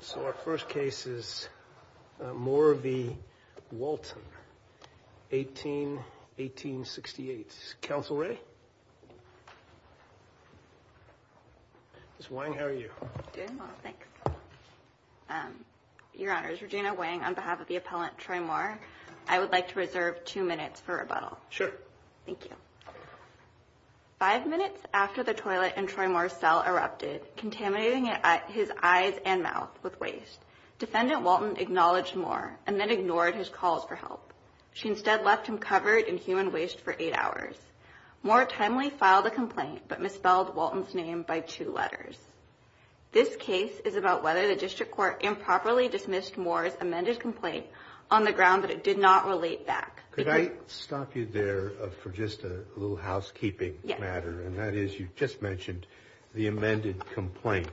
So our first case is Moore v. Walton, 18-1868. Counsel ready? Ms. Wang, how are you? I'm doing well, thanks. Your Honors, Regina Wang on behalf of the appellant Troy Moore. I would like to reserve two minutes for rebuttal. Sure. Five minutes after the toilet in Troy Moore's cell erupted, contaminating his eyes and mouth with waste, Defendant Walton acknowledged Moore and then ignored his calls for help. She instead left him covered in human waste for eight hours. Moore timely filed a complaint but misspelled Walton's name by two letters. This case is about whether the District Court improperly dismissed Moore's amended complaint on the ground that it did not relate back. Could I stop you there for just a little housekeeping matter? Yes. And that is you just mentioned the amended complaint.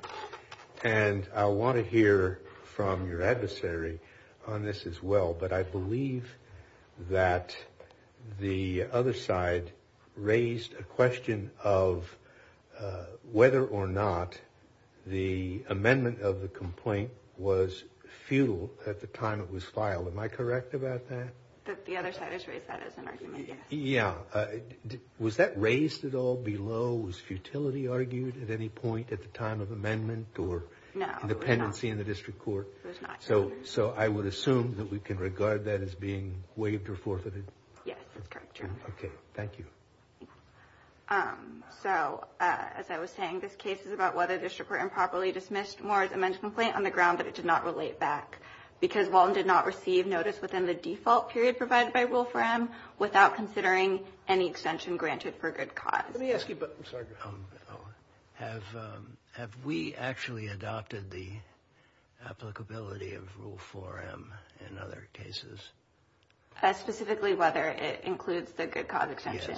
And I want to hear from your adversary on this as well. But I believe that the other side raised a question of whether or not the amendment of the complaint was futile at the time it was filed. Am I correct about that? The other side has raised that as an argument, yes. Yeah. Was that raised at all below? Was futility argued at any point at the time of amendment or dependency in the District Court? No, it was not. So I would assume that we can regard that as being waived or forfeited? Yes, that's correct, Your Honor. Okay. Thank you. So, as I was saying, this case is about whether the District Court improperly dismissed Moore's amended complaint on the ground that it did not relate back. Because Walton did not receive notice within the default period provided by Rule 4M without considering any extension granted for good cause. Let me ask you, but I'm sorry. Have we actually adopted the applicability of Rule 4M in other cases? Specifically whether it includes the good cause extension?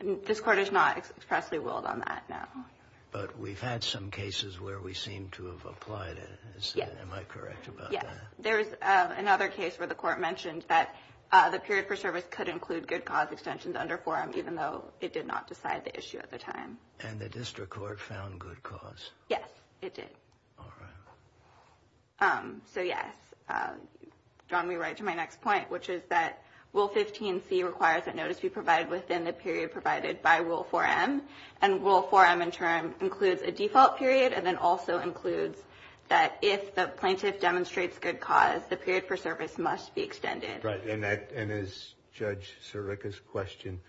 Yes. This Court is not expressly willed on that now. But we've had some cases where we seem to have applied it. Yes. Am I correct about that? Yes. There's another case where the Court mentioned that the period for service could include good cause extensions under 4M, even though it did not decide the issue at the time. And the District Court found good cause? Yes, it did. All right. So, yes. You've drawn me right to my next point, which is that Rule 15C requires that notice be provided within the period provided by Rule 4M. And Rule 4M, in turn, includes a default period and then also includes that if the plaintiff demonstrates good cause, the period for service must be extended. Right. And as Judge Sirica's question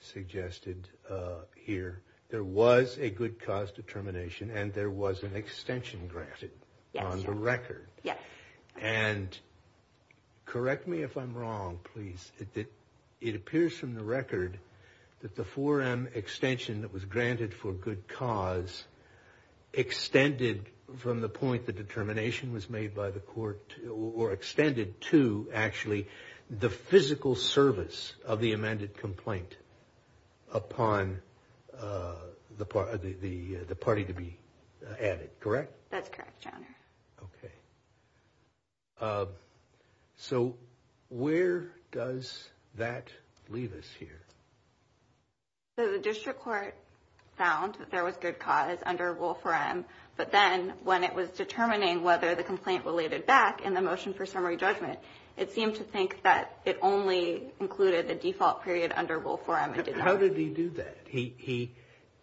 suggested here, there was a good cause determination and there was an extension granted on the record. Yes. And correct me if I'm wrong, please. It appears from the record that the 4M extension that was granted for good cause extended from the point the determination was made by the Court or extended to, actually, the physical service of the amended complaint upon the party to be added. That's correct, Your Honor. Okay. So, where does that leave us here? The District Court found that there was good cause under Rule 4M, but then when it was determining whether the complaint related back in the motion for summary judgment, it seemed to think that it only included the default period under Rule 4M. How did he do that? He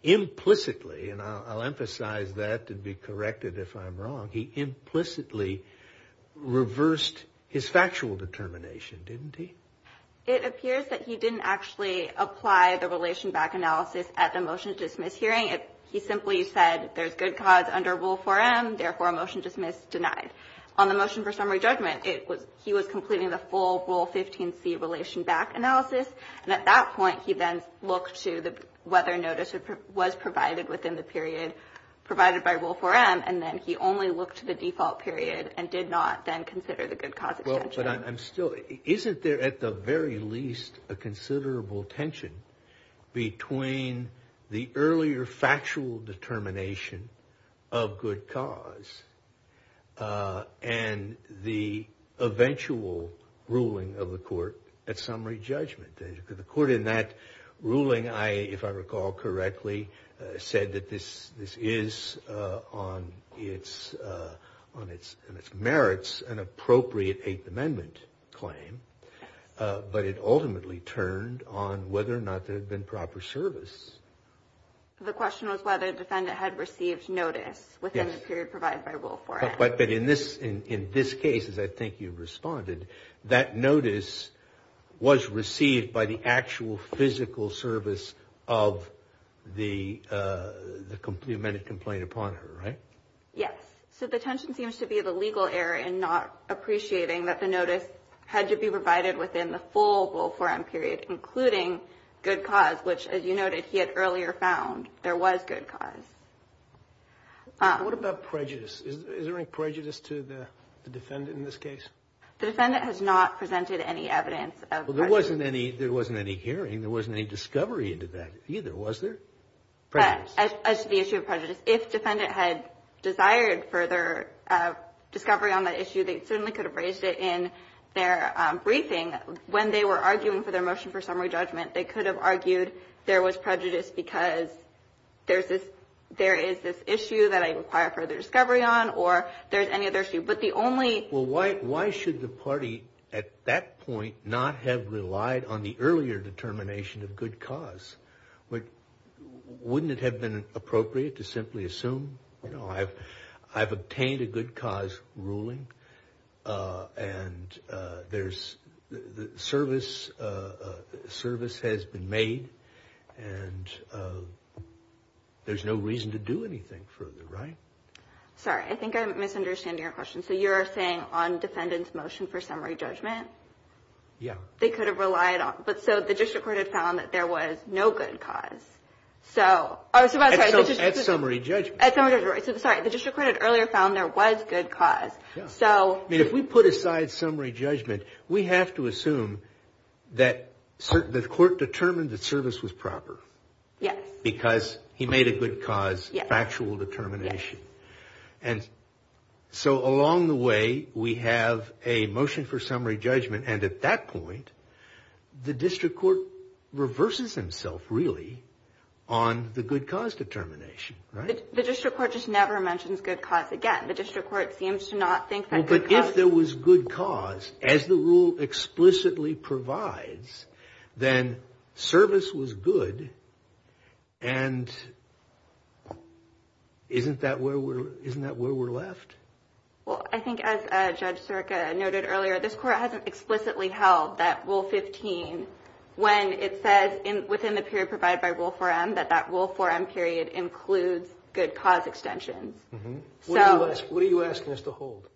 implicitly, and I'll emphasize that to be corrected if I'm wrong, he implicitly reversed his factual determination, didn't he? It appears that he didn't actually apply the relation back analysis at the motion to dismiss hearing. He simply said there's good cause under Rule 4M, therefore a motion to dismiss denied. On the motion for summary judgment, he was completing the full Rule 15C relation back analysis, and at that point he then looked to whether notice was provided within the period provided by Rule 4M, and then he only looked to the default period and did not then consider the good cause extension. But I'm still, isn't there at the very least a considerable tension between the earlier factual determination of good cause and the eventual ruling of the court at summary judgment? The court in that ruling, if I recall correctly, said that this is on its merits an appropriate Eighth Amendment claim, but it ultimately turned on whether or not there had been proper service. The question was whether the defendant had received notice within the period provided by Rule 4M. But in this case, as I think you've responded, that notice was received by the actual physical service of the amended complaint upon her, right? Yes. So the tension seems to be the legal error in not appreciating that the notice had to be provided within the full Rule 4M period, including good cause, which, as you noted, he had earlier found there was good cause. What about prejudice? Is there any prejudice to the defendant in this case? The defendant has not presented any evidence of prejudice. Well, there wasn't any hearing. There wasn't any discovery into that either, was there? As to the issue of prejudice, if defendant had desired further discovery on that issue, they certainly could have raised it in their briefing. When they were arguing for their motion for summary judgment, they could have argued there was prejudice because there is this issue that I require further discovery on or there's any other issue. But the only – Well, why should the party at that point not have relied on the earlier determination of good cause? Wouldn't it have been appropriate to simply assume, you know, I've obtained a good cause ruling and there's – service has been made and there's no reason to do anything further, right? Sorry, I think I'm misunderstanding your question. So you're saying on defendant's motion for summary judgment? Yeah. They could have relied on – but so the district court had found that there was no good cause. So – At summary judgment. At summary judgment, right. Sorry, the district court had earlier found there was good cause. Yeah. So – I mean, if we put aside summary judgment, we have to assume that the court determined that service was proper. Yes. Because he made a good cause, factual determination. Yes. And so along the way, we have a motion for summary judgment. And at that point, the district court reverses himself, really, on the good cause determination, right? The district court just never mentions good cause again. The district court seems to not think that good cause – Isn't that where we're left? Well, I think as Judge Sirica noted earlier, this court hasn't explicitly held that Rule 15, when it says within the period provided by Rule 4M, that that Rule 4M period includes good cause extensions. So – What are you asking us to hold?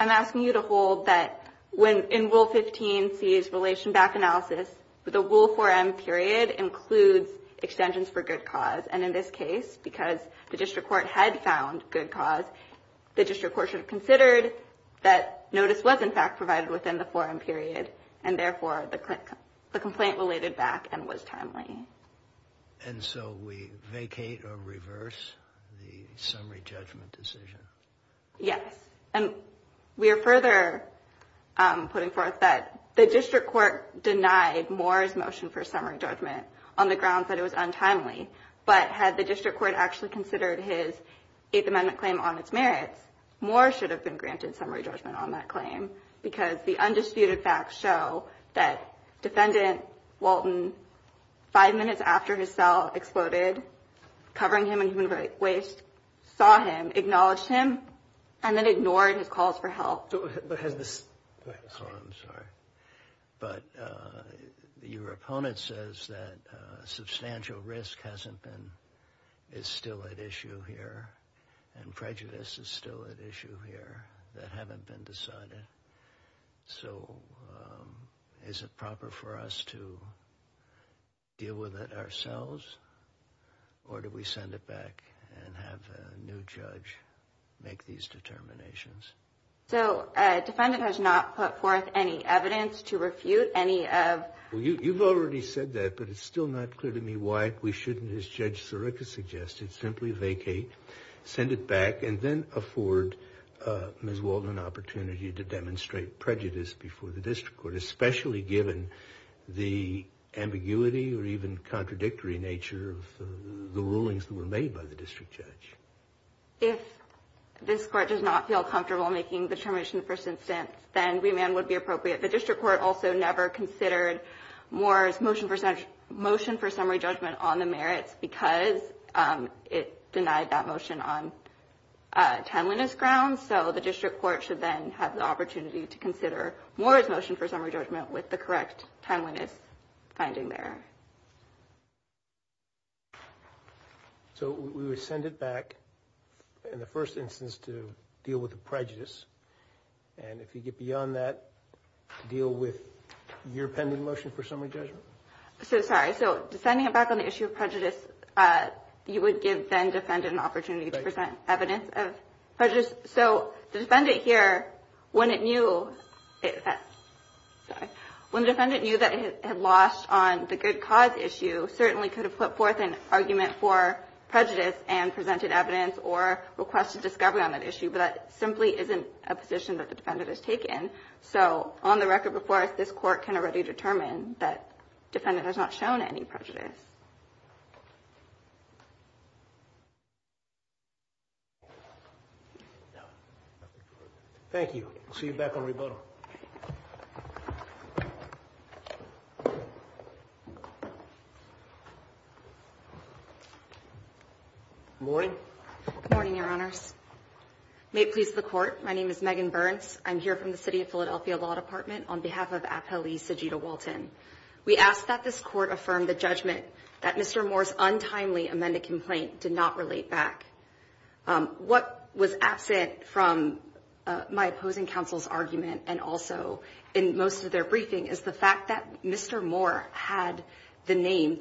I'm asking you to hold that when – in Rule 15C's relation back analysis, the Rule 4M period includes extensions for good cause. And in this case, because the district court had found good cause, the district court should have considered that notice was, in fact, provided within the 4M period, and therefore, the complaint related back and was timely. And so we vacate or reverse the summary judgment decision? Yes. And we are further putting forth that the district court denied Moore's motion for summary judgment on the grounds that it was untimely. But had the district court actually considered his Eighth Amendment claim on its merits, Moore should have been granted summary judgment on that claim because the undisputed facts show that Defendant Walton, five minutes after his cell exploded, covering him in human waste, saw him, acknowledged him, and then ignored his calls for help. Oh, I'm sorry. But your opponent says that substantial risk hasn't been – is still at issue here and prejudice is still at issue here that haven't been decided. So is it proper for us to deal with it ourselves, or do we send it back and have a new judge make these determinations? So Defendant has not put forth any evidence to refute any of – Well, you've already said that, but it's still not clear to me why we shouldn't, as Judge Sirica suggested, simply vacate, send it back, and then afford Ms. Walton an opportunity to demonstrate prejudice before the district court, especially given the ambiguity or even contradictory nature of the rulings that were made by the district judge. If this court does not feel comfortable making the determination in the first instance, then remand would be appropriate. The district court also never considered Moore's motion for summary judgment on the merits because it denied that motion on timeliness grounds. So the district court should then have the opportunity to consider Moore's motion for summary judgment with the correct timeliness finding there. So we would send it back in the first instance to deal with the prejudice, and if you get beyond that, deal with your pending motion for summary judgment? So, sorry, so sending it back on the issue of prejudice, you would give then Defendant an opportunity to present evidence of prejudice. So the Defendant here, when it knew that it had lost on the good cause issue, certainly could have put forth an argument for prejudice and presented evidence or requested discovery on that issue, but that simply isn't a position that the Defendant has taken. So on the record before us, this court can already determine that Defendant has not shown any prejudice. Thank you. We'll see you back on rebuttal. Good morning. Good morning, Your Honors. May it please the Court, my name is Megan Burns. I'm here from the City of Philadelphia Law Department on behalf of Appellee Sajida Walton. We ask that this Court affirm the judgment that Mr. Moore's untimely amended complaint did not relate back. What was absent from my opposing counsel's argument and also in most of their briefing is the fact that Mr. Moore had the name,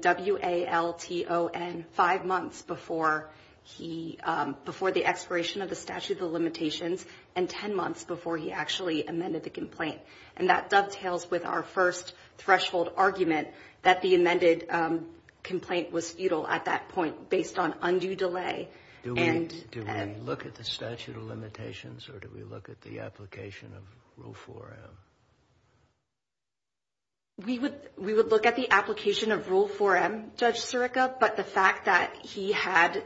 W-A-L-T-O-N, five months before the expiration of the statute of limitations and ten months before he actually amended the complaint. And that dovetails with our first threshold argument that the amended complaint was futile at that point based on undue delay. Do we look at the statute of limitations or do we look at the application of Rule 4M? We would look at the application of Rule 4M, Judge Sirica, but the fact that he had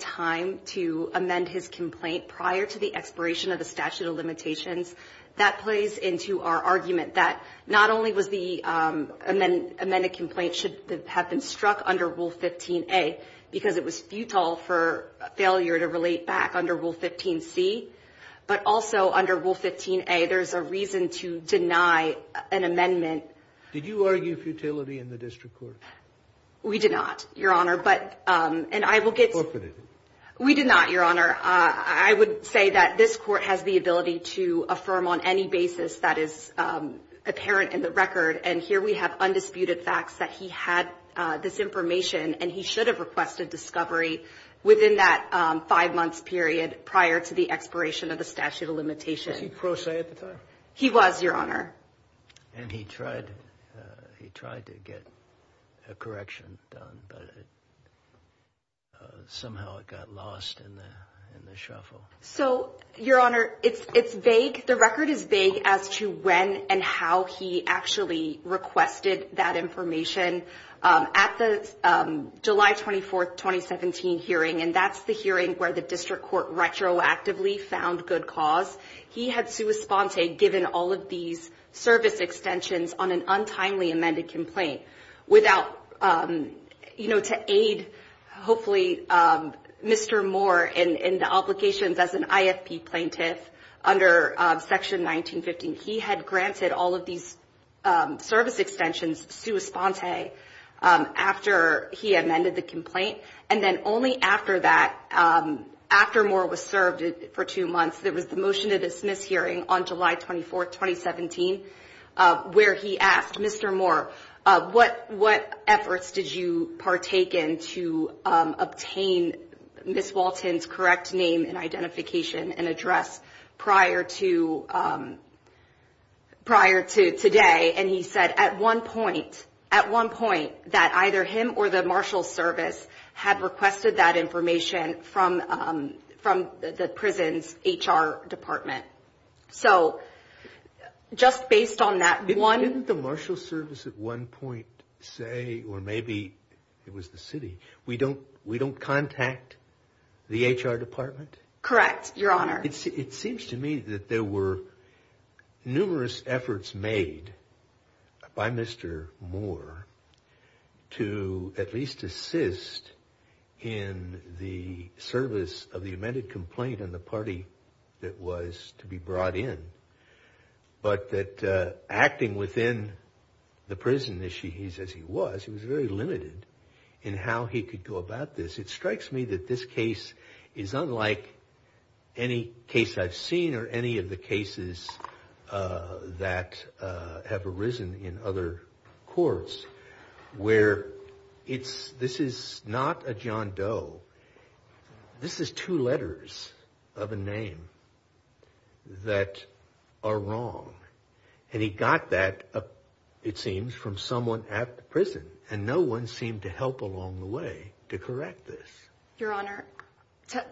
time to amend his complaint prior to the expiration of the statute of limitations, that plays into our argument that not only was the amended complaint should have been struck under Rule 15A because it was futile for failure to relate back under Rule 15C, but also under Rule 15A there's a reason to deny an amendment. Did you argue futility in the district court? We did not, Your Honor. But, and I will get to it. We did not, Your Honor. I would say that this Court has the ability to affirm on any basis that is apparent in the record and here we have undisputed facts that he had this information and he should have requested discovery within that five months period prior to the expiration of the statute of limitations. Was he pro se at the time? He was, Your Honor. And he tried to get a correction done, but somehow it got lost in the shuffle. So, Your Honor, it's vague. The record is vague as to when and how he actually requested that information. At the July 24, 2017 hearing, and that's the hearing where the district court retroactively found good cause, he had sua sponte given all of these service extensions on an untimely amended complaint without, you know, and to aid, hopefully, Mr. Moore in the obligations as an IFP plaintiff under Section 1915, he had granted all of these service extensions sua sponte after he amended the complaint. And then only after that, after Moore was served for two months, there was the motion to dismiss hearing on July 24, 2017, where he asked Mr. Moore, what efforts did you partake in to obtain Ms. Walton's correct name and identification and address prior to today? And he said at one point, at one point, that either him or the marshal's service had requested that information from the prison's HR department. So, just based on that one... Didn't the marshal's service at one point say, or maybe it was the city, we don't contact the HR department? Correct, Your Honor. It seems to me that there were numerous efforts made by Mr. Moore to at least assist in the service of the amended complaint and the party that was to be brought in. But that acting within the prison as he was, he was very limited in how he could go about this. It strikes me that this case is unlike any case I've seen or any of the cases that have arisen in other courts where it's... This is not a John Doe. This is two letters of a name that are wrong. And he got that, it seems, from someone at the prison. And no one seemed to help along the way to correct this. Your Honor,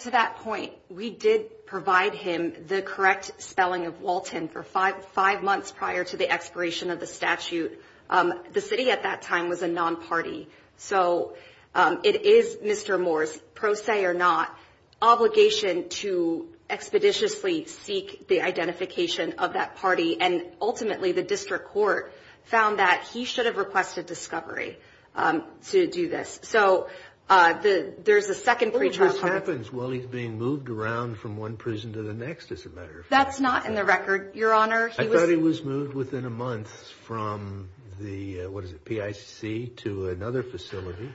to that point, we did provide him the correct spelling of Walton for five months prior to the expiration of the statute. The city at that time was a non-party. So it is Mr. Moore's, pro se or not, obligation to expeditiously seek the identification of that party. And ultimately, the district court found that he should have requested discovery to do this. So there's a second pre-trial... Well, this happens while he's being moved around from one prison to the next, as a matter of fact. That's not in the record, Your Honor. I thought he was moved within a month from the, what is it, PIC to another facility.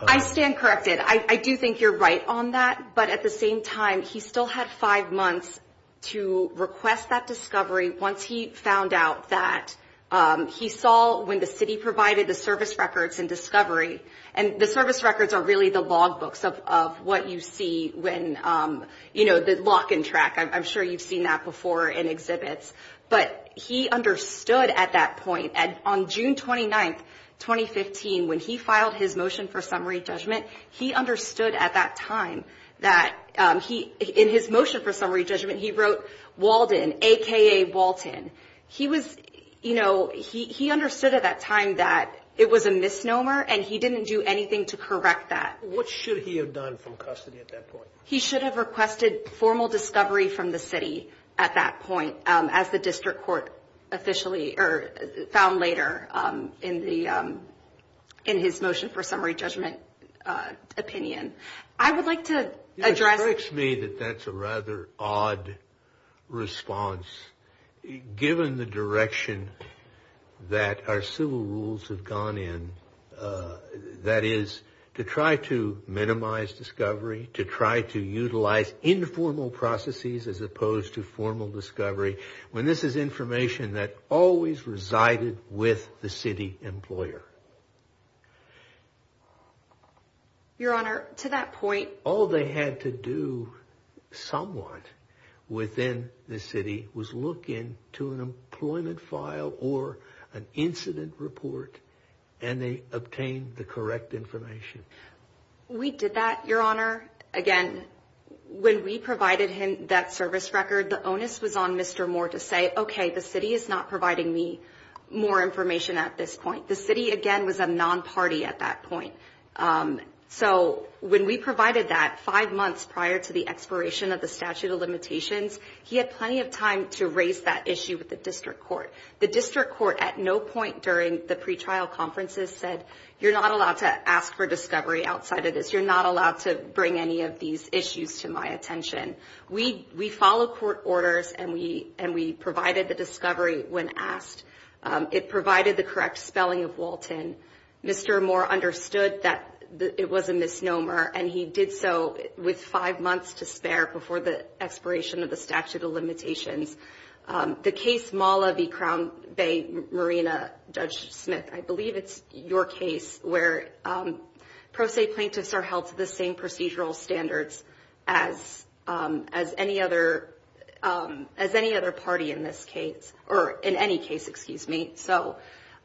I stand corrected. I do think you're right on that. But at the same time, he still had five months to request that discovery once he found out that he saw when the city provided the service records and discovery. And the service records are really the logbooks of what you see when, you know, the lock and track. I'm sure you've seen that before in exhibits. But he understood at that point. On June 29, 2015, when he filed his motion for summary judgment, he understood at that time that he, in his motion for summary judgment, he wrote Walden, a.k.a. Walton. He was, you know, he understood at that time that it was a misnomer and he didn't do anything to correct that. What should he have done from custody at that point? He should have requested formal discovery from the city at that point, as the district court officially found later in his motion for summary judgment opinion. I would like to address. It strikes me that that's a rather odd response. Given the direction that our civil rules have gone in, that is, to try to minimize discovery, to try to utilize informal processes as opposed to formal discovery, when this is information that always resided with the city employer. Your Honor, to that point. All they had to do somewhat within the city was look into an employment file or an incident report and they obtained the correct information. We did that, Your Honor. Again, when we provided him that service record, the onus was on Mr. Moore to say, OK, the city is not providing me more information at this point. The city, again, was a non-party at that point. So when we provided that five months prior to the expiration of the statute of limitations, he had plenty of time to raise that issue with the district court. The district court at no point during the pretrial conferences said, you're not allowed to ask for discovery outside of this. You're not allowed to bring any of these issues to my attention. We follow court orders and we provided the discovery when asked. It provided the correct spelling of Walton. Mr. Moore understood that it was a misnomer and he did so with five months to spare before the expiration of the statute of limitations. The case Mala v. Crown Bay Marina, Judge Smith, I believe it's your case, where pro se plaintiffs are held to the same procedural standards as any other party in this case, or in any case, excuse me. So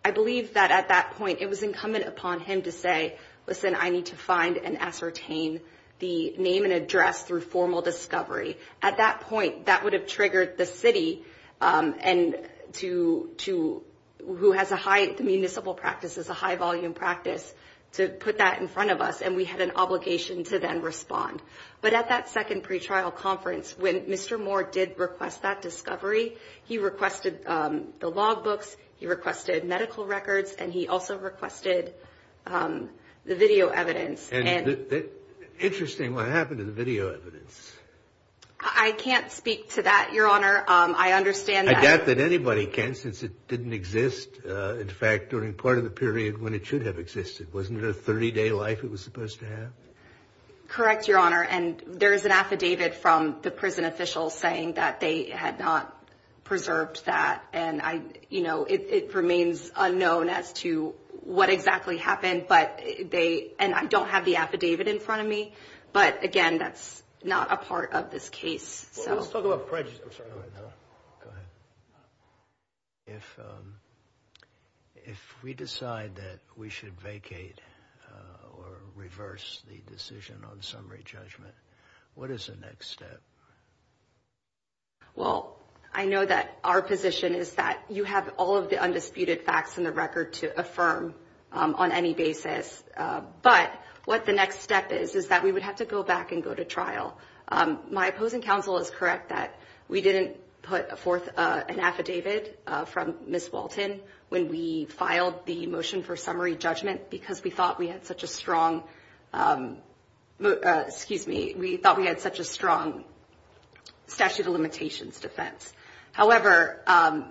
I believe that at that point it was incumbent upon him to say, listen, I need to find and ascertain the name and address through formal discovery. At that point, that would have triggered the city and to who has a high municipal practices, a high volume practice to put that in front of us. And we had an obligation to then respond. But at that second pretrial conference, when Mr. Moore did request that discovery, he requested the logbooks. He requested medical records and he also requested the video evidence. Interesting what happened to the video evidence. I can't speak to that, Your Honor. I understand that. I doubt that anybody can since it didn't exist. In fact, during part of the period when it should have existed, wasn't it a 30 day life it was supposed to have? Correct, Your Honor. And there is an affidavit from the prison officials saying that they had not preserved that. And I you know, it remains unknown as to what exactly happened. But they and I don't have the affidavit in front of me. But again, that's not a part of this case. So let's talk about prejudice. If if we decide that we should vacate or reverse the decision on summary judgment, what is the next step? Well, I know that our position is that you have all of the undisputed facts in the record to affirm on any basis. But what the next step is, is that we would have to go back and go to trial. My opposing counsel is correct that we didn't put forth an affidavit from Miss Walton when we filed the motion for summary judgment, because we thought we had such a strong excuse me. We thought we had such a strong statute of limitations defense. However,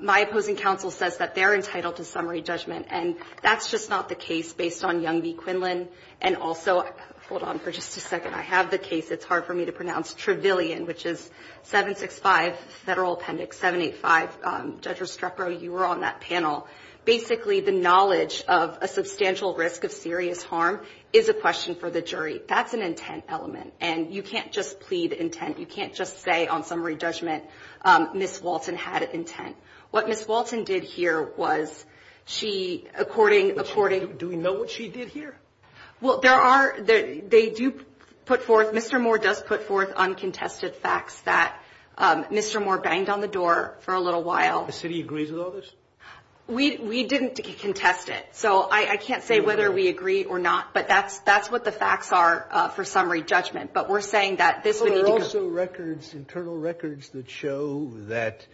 my opposing counsel says that they're entitled to summary judgment. And that's just not the case based on Young v. Quinlan. And also, hold on for just a second. I have the case. It's hard for me to pronounce Trevelyan, which is 765 Federal Appendix 785. You were on that panel. Basically, the knowledge of a substantial risk of serious harm is a question for the jury. That's an intent element. And you can't just plead intent. You can't just say on summary judgment, Miss Walton had intent. What Miss Walton did here was she according according. Do we know what she did here? Well, there are. They do put forth Mr. Moore does put forth uncontested facts that Mr. Moore banged on the door for a little while. The city agrees with all this. We didn't contest it. So I can't say whether we agree or not, but that's that's what the facts are for summary judgment. But we're saying that this would also records internal records that show that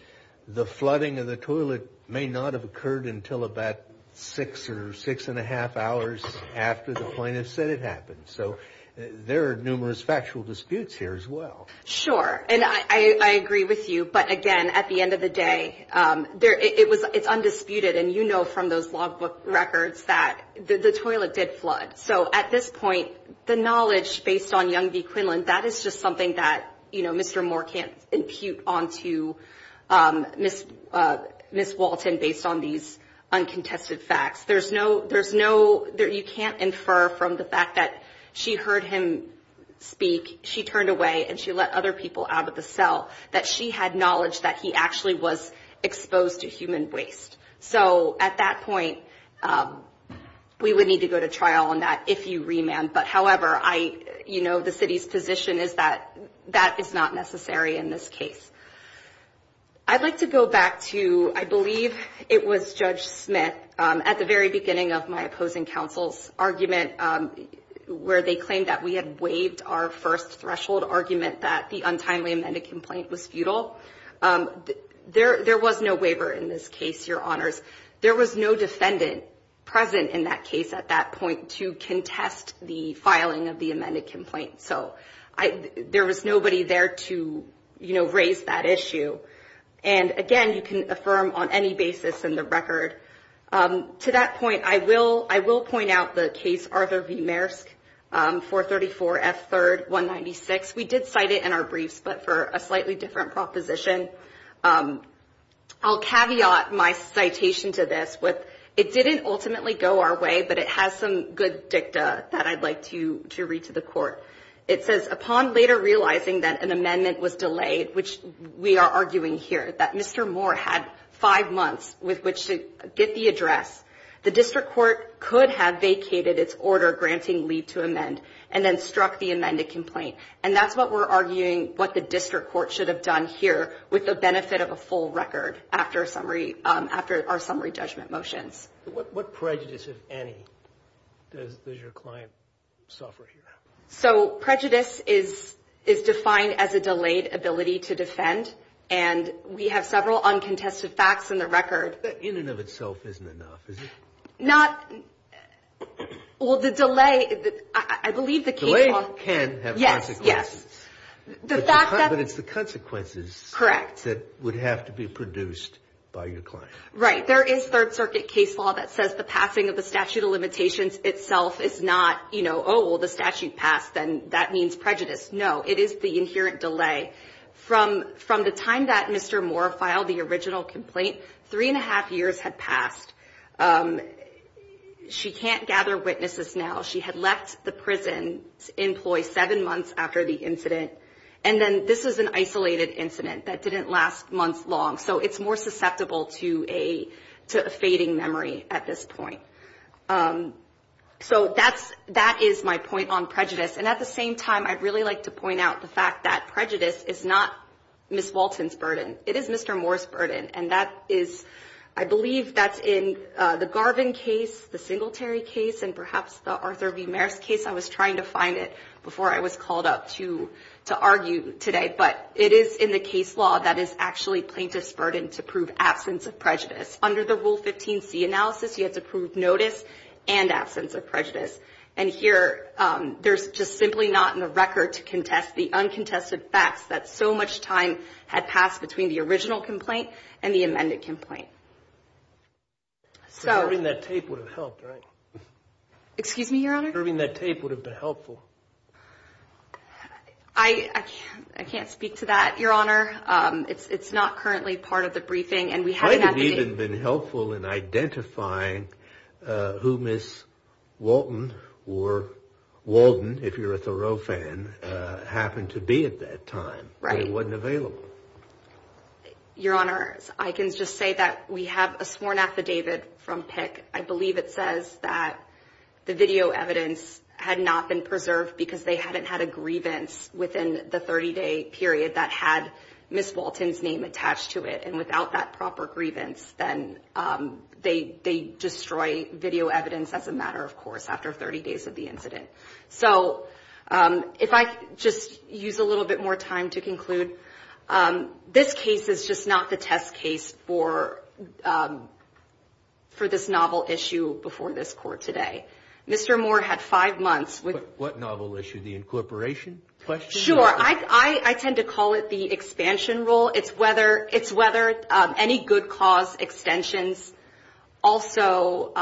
the flooding of the toilet may not have occurred until about six or six and a half hours after the plaintiff said it happens. So there are numerous factual disputes here as well. Sure. And I agree with you. But again, at the end of the day, it was it's undisputed. And, you know, from those logbook records that the toilet did flood. So at this point, the knowledge based on Young v. Quinlan, that is just something that, you know, Mr. Moore can't impute onto Miss Miss Walton based on these uncontested facts. There's no there's no there. You can't infer from the fact that she heard him speak. She turned away and she let other people out of the cell that she had knowledge that he actually was exposed to human waste. So at that point, we would need to go to trial on that if you remand. But however, I you know, the city's position is that that is not necessary in this case. I'd like to go back to I believe it was Judge Smith at the very beginning of my opposing counsel's argument, where they claimed that we had waived our first threshold argument that the untimely amended complaint was futile. There there was no waiver in this case. Your honors. There was no defendant present in that case at that point to contest the filing of the amended complaint. So I there was nobody there to, you know, raise that issue. And again, you can affirm on any basis in the record to that point. I will I will point out the case. Arthur V. Maersk for 34 F third one ninety six. We did cite it in our briefs, but for a slightly different proposition, I'll caveat my citation to this. It didn't ultimately go our way, but it has some good dicta that I'd like to to read to the court. It says upon later realizing that an amendment was delayed, which we are arguing here, that Mr. Moore had five months with which to get the address. The district court could have vacated its order granting lead to amend and then struck the amended complaint. And that's what we're arguing, what the district court should have done here with the benefit of a full record. After summary, after our summary judgment motions, what prejudice, if any, does your client suffer here? So prejudice is is defined as a delayed ability to defend. And we have several uncontested facts in the record in and of itself isn't enough. Is it not? Well, the delay, I believe the delay can have. Yes. Yes. The fact that it's the consequences. Correct. That would have to be produced by your client. Right. There is Third Circuit case law that says the passing of the statute of limitations itself is not, you know, oh, the statute passed. Then that means prejudice. No, it is the inherent delay from from the time that Mr. Moore filed the original complaint. Three and a half years had passed. She can't gather witnesses now. She had left the prison employ seven months after the incident. And then this is an isolated incident that didn't last months long. So it's more susceptible to a to a fading memory at this point. So that's that is my point on prejudice. And at the same time, I'd really like to point out the fact that prejudice is not Miss Walton's burden. It is Mr. Moore's burden. And that is, I believe that's in the Garvin case, the Singletary case. And perhaps the Arthur V. Maris case. I was trying to find it before I was called up to to argue today. But it is in the case law that is actually plaintiff's burden to prove absence of prejudice. Under the Rule 15C analysis, you have to prove notice and absence of prejudice. And here there's just simply not in the record to contest the uncontested facts that so much time had passed between the original complaint and the amended complaint. Preserving that tape would have helped, right? Excuse me, Your Honor? Preserving that tape would have been helpful. I can't speak to that, Your Honor. It's not currently part of the briefing. It might have even been helpful in identifying who Miss Walton or Walden, if you're a Thoreau fan, happened to be at that time, but it wasn't available. Your Honor, I can just say that we have a sworn affidavit from PIC. I believe it says that the video evidence had not been preserved because they hadn't had a grievance within the 30-day period that had Miss Walton's name attached to it. And without that proper grievance, then they destroy video evidence as a matter of course after 30 days of the incident. So if I just use a little bit more time to conclude, this case is just not the test case for this novel issue before this court today. Mr. Moore had five months with- What novel issue? The incorporation question? Sure. I tend to call it the expansion rule. It's whether any good cause extensions also,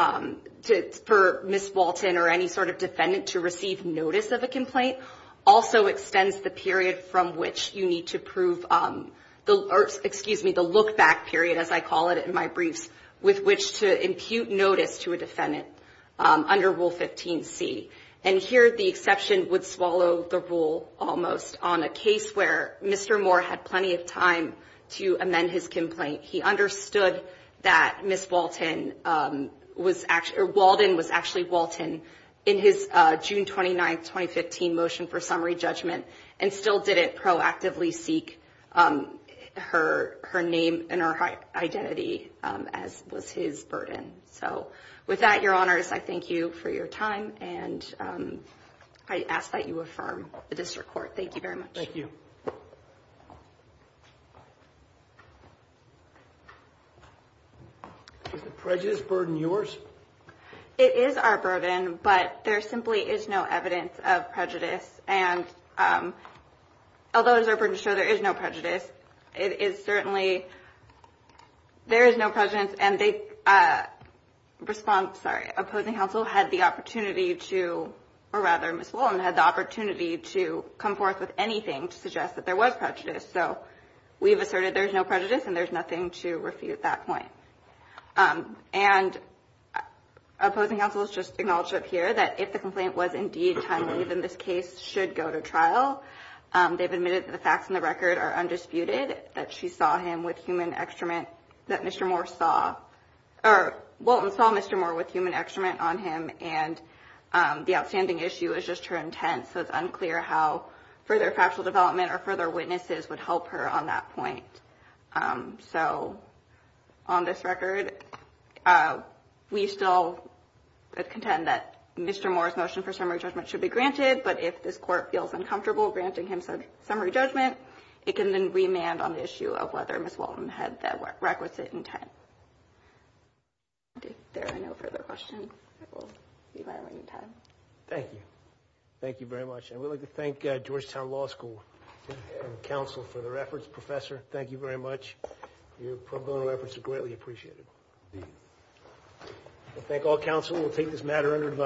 per Miss Walton or any sort of defendant to receive notice of a complaint, also extends the period from which you need to prove the look-back period, as I call it in my briefs, with which to impute notice to a defendant under Rule 15C. And here the exception would swallow the rule almost on a case where Mr. Moore had plenty of time to amend his complaint. He understood that Miss Walton was- or Walden was actually Walton in his June 29, 2015 motion for summary judgment and still didn't proactively seek her name and her identity as was his burden. So with that, Your Honors, I thank you for your time and I ask that you affirm the district court. Thank you very much. Thank you. Is the prejudice burden yours? It is our burden, but there simply is no evidence of prejudice. And although it is our burden to show there is no prejudice, it is certainly- there is no prejudice. And the response- sorry, opposing counsel had the opportunity to- or rather, Miss Walton had the opportunity to come forth with anything to suggest that there was prejudice. So we've asserted there's no prejudice and there's nothing to refute that point. And opposing counsel has just acknowledged up here that if the complaint was indeed timely, then this case should go to trial. They've admitted that the facts in the record are undisputed, that she saw him with human extrament- that Mr. Moore saw- or Walton saw Mr. Moore with human extrament on him and the outstanding issue is just her intent, so it's unclear how further factual development or further witnesses would help her on that point. So on this record, we still contend that Mr. Moore's motion for summary judgment should be granted, but if this court feels uncomfortable granting him summary judgment, it can then remand on the issue of whether Miss Walton had the requisite intent. If there are no further questions, it will be my remaining time. Thank you. Thank you very much. And we'd like to thank Georgetown Law School and counsel for their efforts. Professor, thank you very much. Your pro bono efforts are greatly appreciated. Indeed. I thank all counsel. We'll take this matter under advisory.